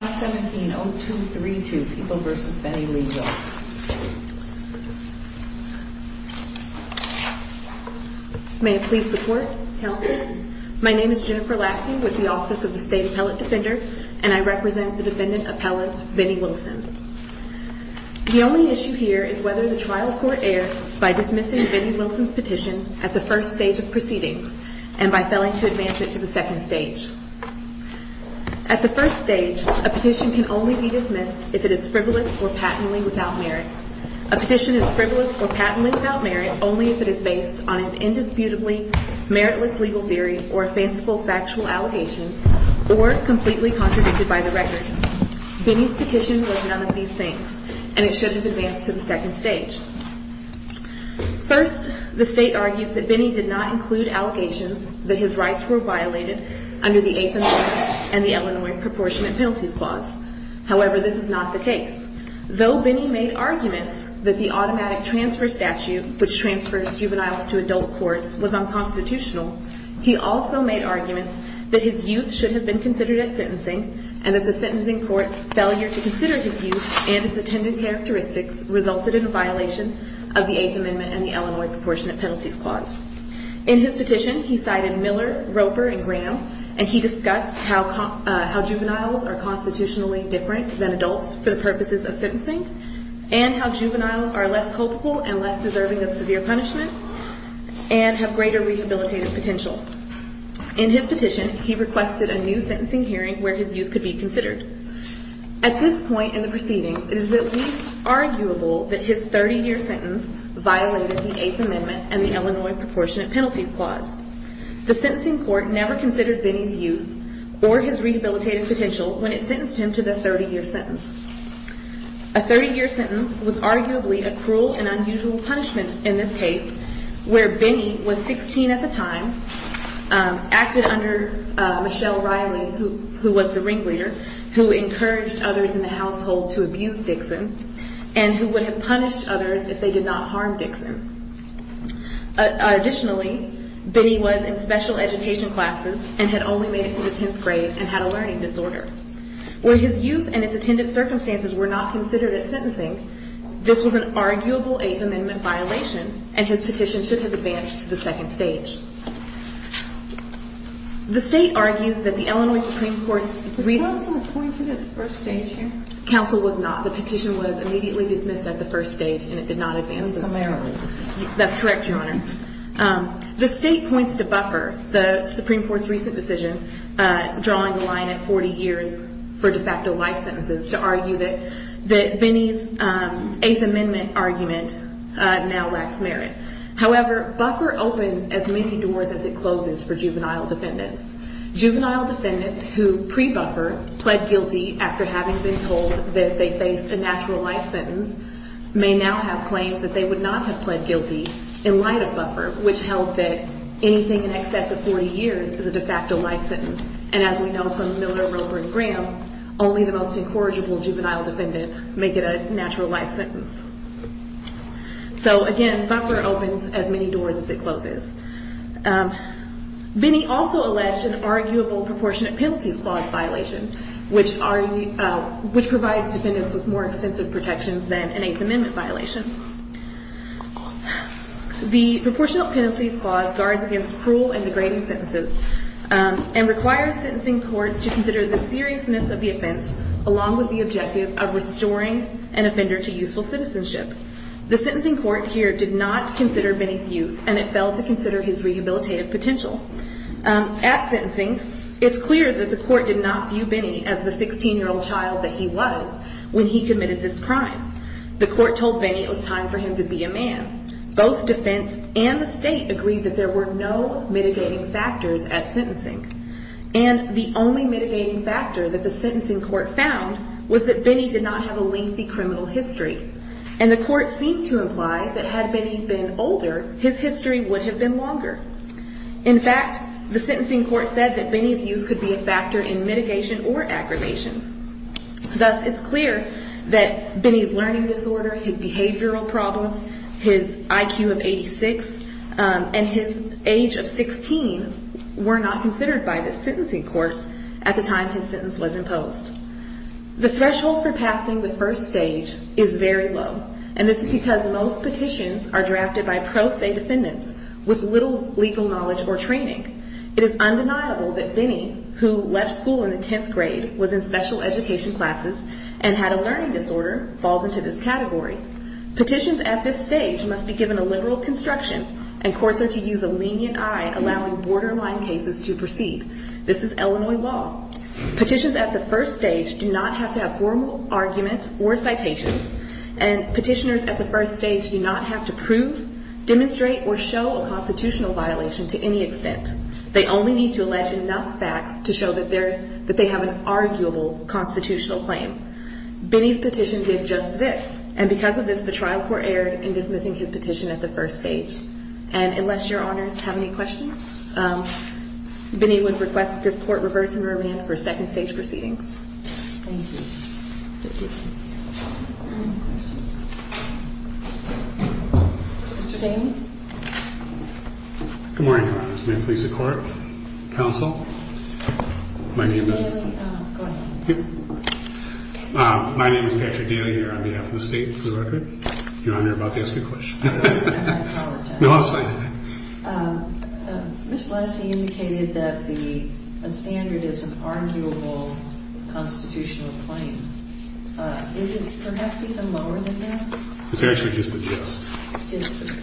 May it please the court, counsel. My name is Jennifer Lassie with the Office of the State Appellate Defender, and I represent the defendant appellate Vinnie Wilson. The only issue here is whether the trial court erred by dismissing Vinnie Wilson's petition at the first stage of proceedings and by failing to advance it to the second stage. At the first stage, a petition can only be dismissed if it is frivolous or patently without merit. A petition is frivolous or patently without merit only if it is based on an indisputably meritless legal theory or a fanciful factual allegation or completely contradicted by the record. Vinnie's petition was none of these things, and it should have advanced to the second stage. First, the state argues that Vinnie did not include allegations that his rights were violated under the Eighth Amendment and the Illinois Proportionate Penalties Clause. However, this is not the case. Though Vinnie made arguments that the automatic transfer statute, which transfers juveniles to adult courts, was unconstitutional, he also made arguments that his youth should have been considered as sentencing and that the sentencing court's failure to consider his youth and its attendant characteristics resulted in a violation of the Eighth Amendment and the Illinois Proportionate Penalties Clause. In his petition, he cited Miller, Roper, and Graham, and he discussed how juveniles are constitutionally different than adults for the purposes of sentencing and how juveniles are less culpable and less deserving of severe punishment and have greater rehabilitative potential. In his petition, he requested a new sentencing hearing where his youth could be considered. At this point in the proceedings, it is at least arguable that his 30-year sentence violated the Eighth Amendment and the Illinois Proportionate Penalties Clause. The sentencing court never considered Vinnie's youth or his rehabilitative potential when it sentenced him to the 30-year sentence. A 30-year sentence was arguably a cruel and unusual punishment in this case where Vinnie was 16 at the time, acted under Michelle Riley, who was the ringleader, who encouraged others in the household to abuse Dixon, and who would have punished others if they did not harm Dixon. Additionally, Vinnie was in special education classes and had only made it to the 10th grade and had a learning disorder. Where his youth and his attendant circumstances were not considered at sentencing, this was an arguable Eighth Amendment violation, and his petition should have advanced to the second stage. The state argues that the Illinois Supreme Court's recent decision to buffer the Supreme Court's recent decision, drawing the line at 40 years for de facto life sentences, to argue that Vinnie's Eighth Amendment argument now lacks merit. However, buffer opens as many doors as it closes for juvenile defendants. Juvenile defendants who pre-buffer, pled guilty after having been told that they faced a natural life sentence, may now have claims that they would not have pled guilty in light of buffer, which held that anything in excess of 40 years is a de facto life sentence. And as we know from Miller, Roper, and Graham, only the most incorrigible juvenile defendant may get a natural life sentence. So again, buffer opens as many doors as it closes. Vinnie also alleged an arguable Proportionate Penalties Clause violation, which provides defendants with more extensive protections than an Eighth Amendment violation. The Proportionate Penalties Clause guards against cruel and degrading sentences and requires sentencing courts to consider the seriousness of the offense along with the objective of restoring an offender to useful citizenship. The sentencing court here did not consider Vinnie's youth, and it failed to consider his rehabilitative potential. At sentencing, it's clear that the court did not view Vinnie as the 16-year-old child that he was when he committed this crime. The court told Vinnie it was time for him to be a man. Both defense and the state agreed that there were no mitigating factors at sentencing. And the only mitigating factor that the sentencing court found was that Vinnie did not have a lengthy criminal history. And the court seemed to imply that had Vinnie been older, his history would have been longer. In fact, the sentencing court said that Vinnie's youth could be a factor in mitigation or aggravation. Thus, it's clear that Vinnie's learning disorder, his behavioral problems, his IQ of 86, and his age of 16 were not considered by the sentencing court at the time his sentence was imposed. The threshold for passing the first stage is very low, and this is because most petitions are drafted by pro se defendants with little legal knowledge or training. It is undeniable that Vinnie, who left school in the 10th grade, was in special education classes, and had a learning disorder, falls into this category. Petitions at this stage must be given a liberal construction, and courts are to use a lenient eye, allowing borderline cases to proceed. This is Illinois law. Petitions at the first stage do not have to have formal arguments or citations, and petitioners at the first stage do not have to prove, demonstrate, or show a constitutional violation to any extent. They only need to allege enough facts to show that they have an arguable constitutional claim. Vinnie's petition did just this, and because of this, the trial court erred in dismissing his petition at the first stage. And unless your honors have any questions, Vinnie would request that this court reverse and remand for second stage proceedings. Thank you. Mr. Daley? Good morning, Your Honors. May it please the court, counsel, my name is- Mr. Daley, go ahead. My name is Patrick Daley here on behalf of the state for the record. Your Honor, I'm about to ask a question. I apologize. No, that's fine. Ms. Leslie indicated that the standard is an arguable constitutional claim. Is it perhaps even lower than that? It's actually just a gist. Just a gist.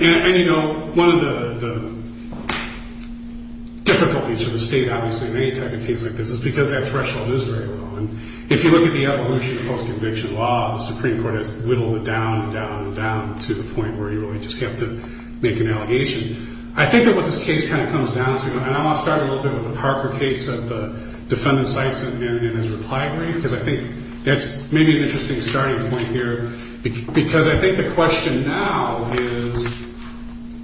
And, you know, one of the difficulties for the state, obviously, in any type of case like this is because that threshold is very low. And if you look at the evolution of post-conviction law, the Supreme Court has whittled it down and down and down to the point where you really just have to make an allegation. I think that what this case kind of comes down to, and I want to start a little bit with the Parker case, the defendant cites it in his reply brief, because I think that's maybe an interesting starting point here, because I think the question now is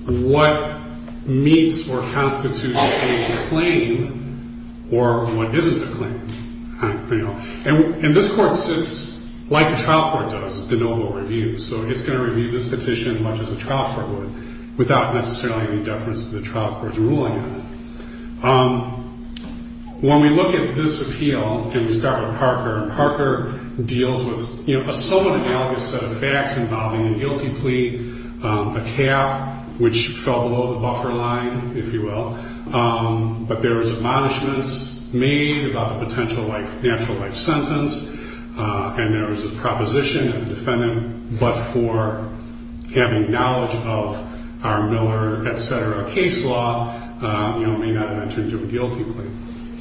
what meets or constitutes a claim or what isn't a claim? And this Court sits like the trial court does. It's de novo review. So it's going to review this petition as much as a trial court would without necessarily any deference to the trial court's ruling on it. When we look at this appeal, and we start with Parker, Parker deals with a somewhat analogous set of facts involving a guilty plea, a cap, which fell below the buffer line, if you will. But there was admonishments made about the potential natural life sentence. And there was a proposition of the defendant, but for having knowledge of our Miller, et cetera, case law, may not have entered into a guilty plea.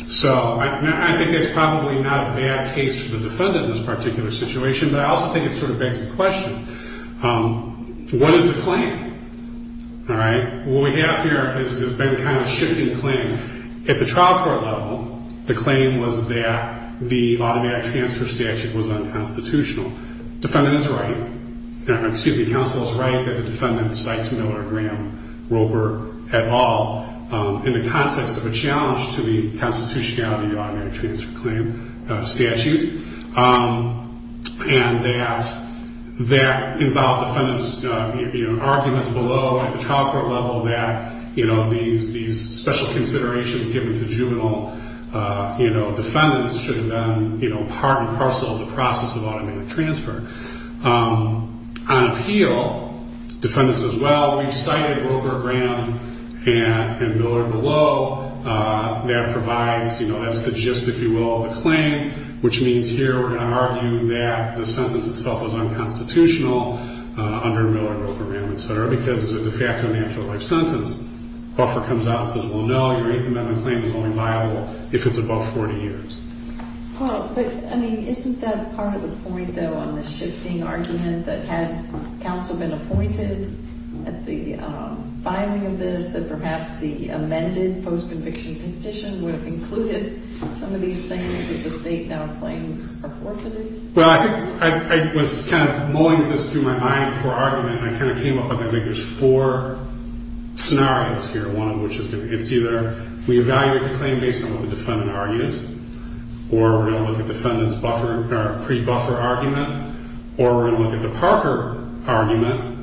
So I think it's probably not a bad case for the defendant in this particular situation, but I also think it sort of begs the question, what is the claim? All right. What we have here has been a kind of shifting claim. At the trial court level, the claim was that the automatic transfer statute was unconstitutional. Defendant is right, or excuse me, counsel is right that the defendant cites Miller, Graham, Roper, et al. in the context of a challenge to the constitutionality of the automatic transfer claim statute, and that that involved defendants' arguments below at the trial court level that these special considerations given to juvenile defendants should have been part and parcel of the process of automatic transfer. On appeal, defendants as well, we've cited Roper, Graham, and Miller below. That provides, you know, that's the gist, if you will, of the claim, which means here we're going to argue that the sentence itself is unconstitutional under Miller, Roper, Graham, et cetera, because it's a de facto natural life sentence. Buffer comes out and says, well, no, your eighth amendment claim is only viable if it's above 40 years. But, I mean, isn't that part of the point, though, on the shifting argument that had counsel been appointed at the filing of this that perhaps the amended post-conviction condition would have included some of these things that the state now claims are forfeited? Well, I think I was kind of mulling this through my mind before argument, and I kind of came up with, I think, there's four scenarios here, one of which is it's either we evaluate the claim based on what the defendant argues, or we're going to look at the defendant's buffer or pre-buffer argument, or we're going to look at the Parker argument,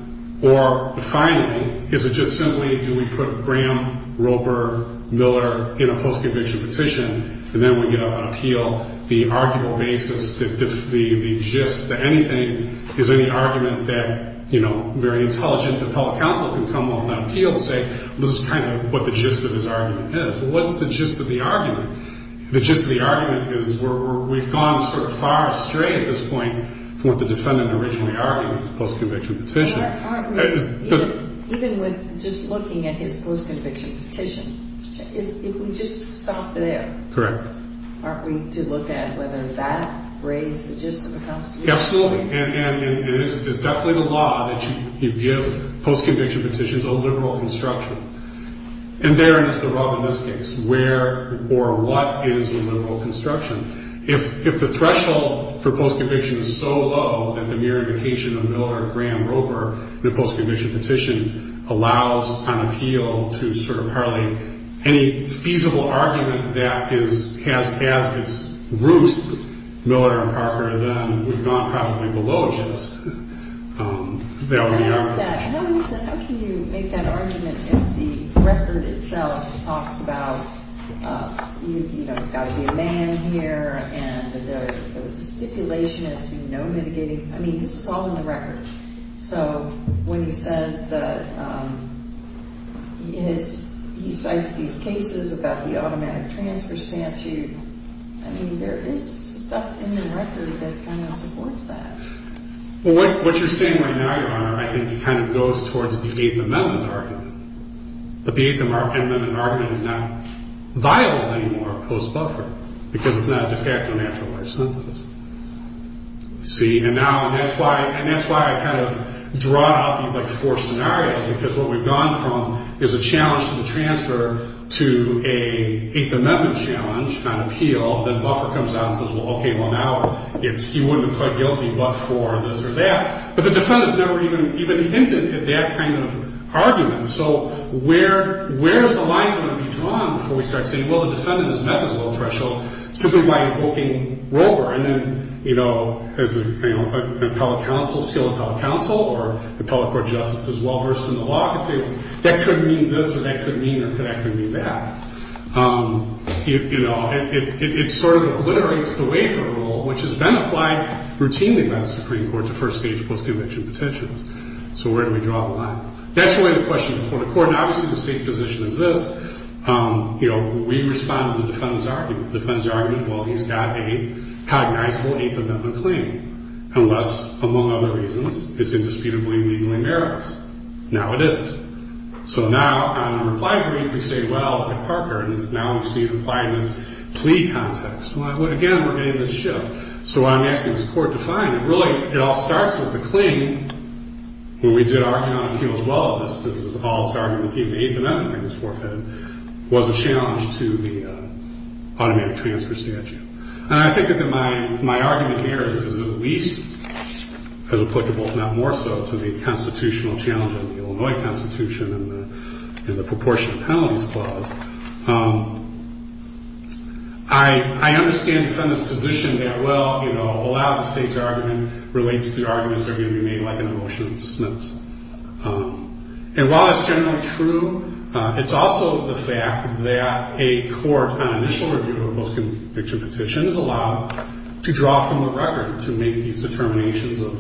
or, finally, is it just simply do we put Graham, Roper, Miller in a post-conviction petition, and then we get up on appeal the arguable basis, the gist, that anything is any argument that, you know, very intelligent appellate counsel can come up on appeal and say, well, this is kind of what the gist of this argument is. Well, what's the gist of the argument? The gist of the argument is we've gone sort of far astray at this point from what the defendant originally argued, his post-conviction petition. But aren't we, even with just looking at his post-conviction petition, if we just stop there. Correct. Aren't we to look at whether that raised the gist of the constitutional argument? Absolutely. And it is definitely the law that you give post-conviction petitions a liberal construction. And therein is the rub in this case, where or what is a liberal construction. If the threshold for post-conviction is so low that the mere indication of Miller, Graham, Roper in a post-conviction petition allows on appeal to sort of hardly any feasible argument that has as its roots Miller and Parker, then we've gone probably below gist. How can you make that argument if the record itself talks about, you know, there's got to be a man here and there was a stipulation as to no mitigating. I mean, this is all in the record. So when he says that he cites these cases about the automatic transfer statute, I mean, there is stuff in the record that kind of supports that. Well, what you're saying right now, Your Honor, I think it kind of goes towards the Eighth Amendment argument. But the Eighth Amendment argument is not viable anymore post-Buffer, because it's not a de facto natural life sentence. See? And that's why I kind of draw out these, like, four scenarios, because what we've gone from is a challenge to the transfer to an Eighth Amendment challenge on appeal. Well, then Buffer comes out and says, well, okay, well, now you wouldn't have pled guilty but for this or that. But the defendant's never even hinted at that kind of argument. So where is the line going to be drawn before we start saying, well, the defendant has met this low threshold simply by invoking Rover? And then, you know, as an appellate counsel, skilled appellate counsel, or appellate court justice as well versed in the law could say, well, that could mean this or that could mean that. You know, it sort of obliterates the waiver rule, which has been applied routinely by the Supreme Court to first-stage post-conviction petitions. So where do we draw the line? That's really the question before the court. And obviously the state's position is this. You know, we respond to the defendant's argument. The defendant's argument, well, he's got a cognizable Eighth Amendment claim, unless, among other reasons, it's indisputably and legally meritless. Now it is. So now, on a reply brief, we say, well, like Parker has now received a reply in this plea context. Well, again, we're getting this shift. So what I'm asking this court to find, and really it all starts with the claim, when we did our count of appeals, well, this is all this argument that the Eighth Amendment claim was forfeited, was a challenge to the automatic transfer statute. And I think that my argument here is at least as applicable, if not more so, to the constitutional challenge of the Illinois Constitution and the proportionate penalties clause. I understand the defendant's position that, well, you know, a lot of the state's argument relates to the arguments that are going to be made like an emotional dismiss. And while that's generally true, it's also the fact that a court on initial review of post-conviction petitions is allowed to draw from the record to make these determinations of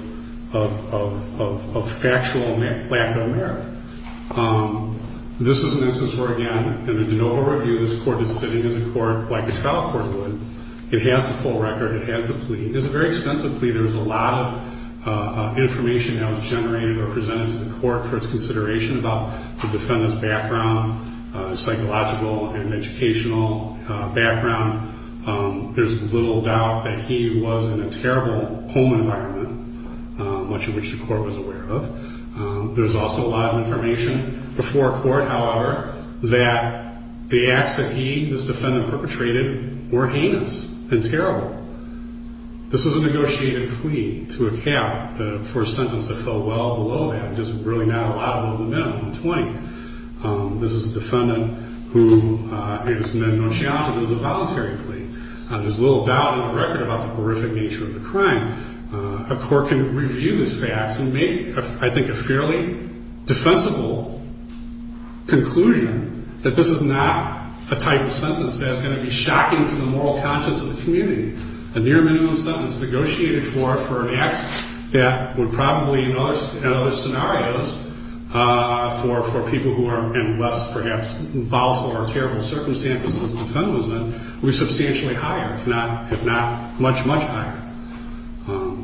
factual lack of merit. This is an instance where, again, in the de novo review, this court is sitting as a court like a trial court would. It has the full record. It has the plea. It's a very extensive plea. There's a lot of information that was generated or presented to the court for its consideration about the defendant's background, psychological and educational background. There's little doubt that he was in a terrible home environment, much of which the court was aware of. There's also a lot of information before court, however, that the acts that he, this defendant, perpetrated were heinous and terrible. This was a negotiated plea to a cap for a sentence that fell well below that, which is really not a lot below the minimum of 20. This is a defendant who is met no challenge. It is a voluntary plea. There's little doubt in the record about the horrific nature of the crime. A court can review these facts and make, I think, a fairly defensible conclusion that this is not a type of sentence that is going to be shocking to the moral conscience of the community. A near-minimum sentence negotiated for an act that would probably, in other scenarios, for people who are in less, perhaps, volatile or terrible circumstances as the defendant was in, would be substantially higher, if not much, much higher.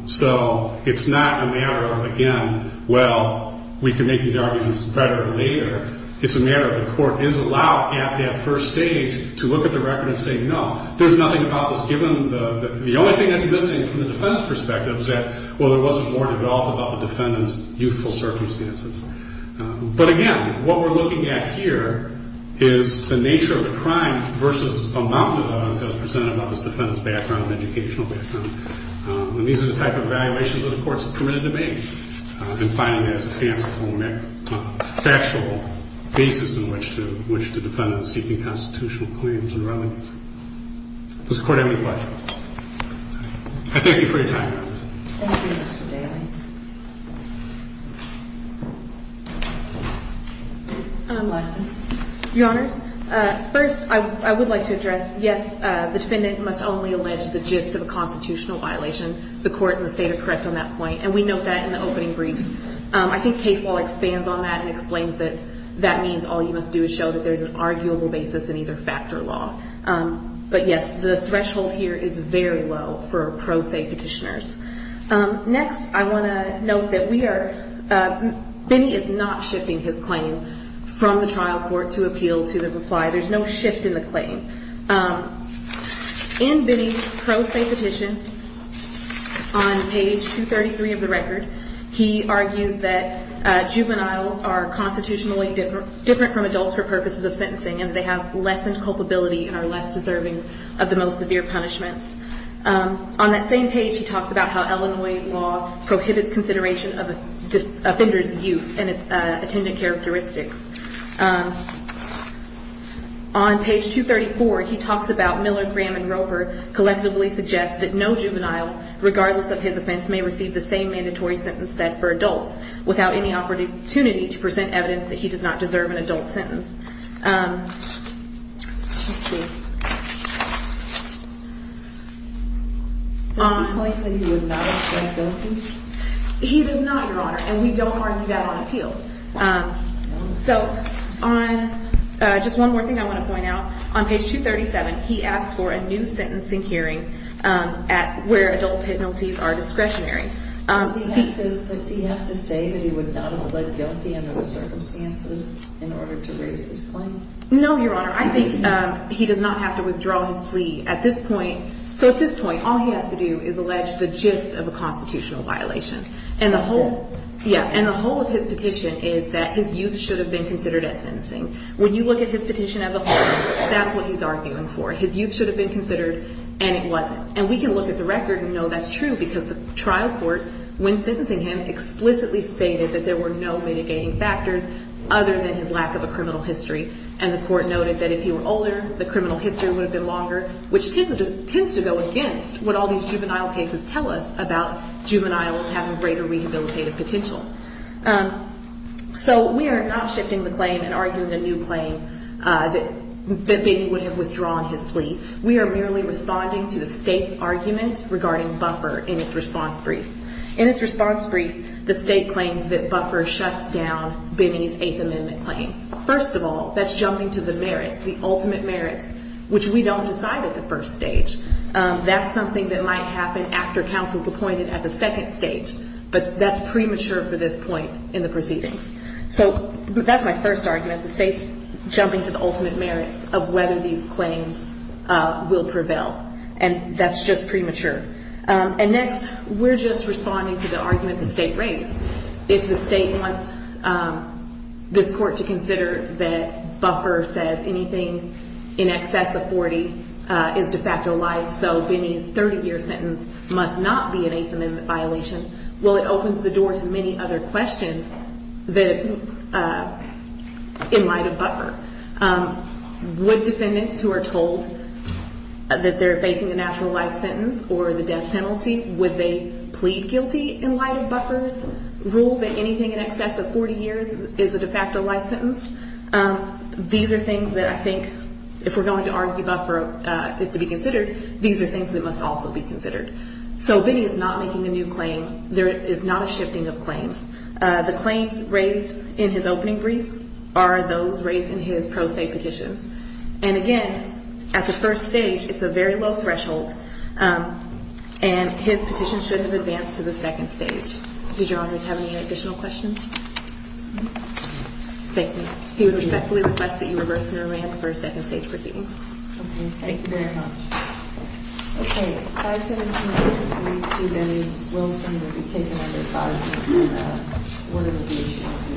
So it's not a matter of, again, well, we can make these arguments better later. It's a matter of the court is allowed at that first stage to look at the record and say, no, there's nothing about this, given the only thing that's missing from the defendant's perspective is that, well, there wasn't more developed about the defendant's youthful circumstances. But again, what we're looking at here is the nature of the crime versus amount of evidence that was presented about this defendant's background and educational background. And these are the type of evaluations that a court is permitted to make and find it as a factual basis on which the defendant is seeking constitutional claims and remedies. Does the Court have any questions? I thank you for your time. Thank you, Mr. Daly. Your Honors, first, I would like to address, yes, the defendant must only allege the gist of a constitutional violation. The Court and the State are correct on that point. And we note that in the opening brief. I think case law expands on that and explains that that means all you must do is show that there's an arguable basis in either fact or law. But, yes, the threshold here is very low for pro se petitioners. Next, I want to note that we are – Benny is not shifting his claim from the trial court to appeal to the reply. There's no shift in the claim. In Benny's pro se petition on page 233 of the record, he argues that juveniles are constitutionally different from adults for purposes of sentencing and they have less than culpability and are less deserving of the most severe punishments. On that same page, he talks about how Illinois law prohibits consideration of offenders' youth and its attendant characteristics. On page 234, he talks about Miller, Graham, and Roper collectively suggest that no juvenile, regardless of his offense, may receive the same mandatory sentence set for adults without any opportunity to present evidence that he does not deserve an adult sentence. Let's see. Does he claim that he would not have been guilty? He does not, Your Honor, and we don't argue that on appeal. So on – just one more thing I want to point out. On page 237, he asks for a new sentencing hearing where adult penalties are discretionary. Does he have to say that he would not have pled guilty under the circumstances in order to raise his claim? No, Your Honor. I think he does not have to withdraw his plea at this point. So at this point, all he has to do is allege the gist of a constitutional violation. And the whole – yeah, and the whole of his petition is that his youth should have been considered at sentencing. When you look at his petition as a whole, that's what he's arguing for. His youth should have been considered, and it wasn't. And we can look at the record and know that's true because the trial court, when sentencing him, explicitly stated that there were no mitigating factors other than his lack of a criminal history. And the court noted that if he were older, the criminal history would have been longer, which tends to go against what all these juvenile cases tell us about juveniles having greater rehabilitative potential. So we are not shifting the claim and arguing a new claim that Benny would have withdrawn his plea. We are merely responding to the State's argument regarding buffer in its response brief. In its response brief, the State claimed that buffer shuts down Benny's Eighth Amendment claim. First of all, that's jumping to the merits, the ultimate merits, which we don't decide at the first stage. That's something that might happen after counsel is appointed at the second stage, but that's premature for this point in the proceedings. So that's my first argument. The State's jumping to the ultimate merits of whether these claims will prevail, and that's just premature. And next, we're just responding to the argument the State raised. If the State wants this court to consider that buffer says anything in excess of 40 is de facto life, so Benny's 30-year sentence must not be an Eighth Amendment violation, well, it opens the door to many other questions in light of buffer. Would defendants who are told that they're faking a natural life sentence or the death penalty, would they plead guilty in light of buffer's rule that anything in excess of 40 years is a de facto life sentence? These are things that I think, if we're going to argue buffer is to be considered, these are things that must also be considered. So Benny is not making a new claim. There is not a shifting of claims. The claims raised in his opening brief are those raised in his pro se petition. And, again, at the first stage, it's a very low threshold, and his petition shouldn't have advanced to the second stage. Did your honors have any additional questions? No. Thank you. He would respectfully request that you reverse and arrange for a second stage proceedings. Okay. Thank you very much. Okay. 517-322, Benny Wilson, will be taken under five minutes for the word of adjudication.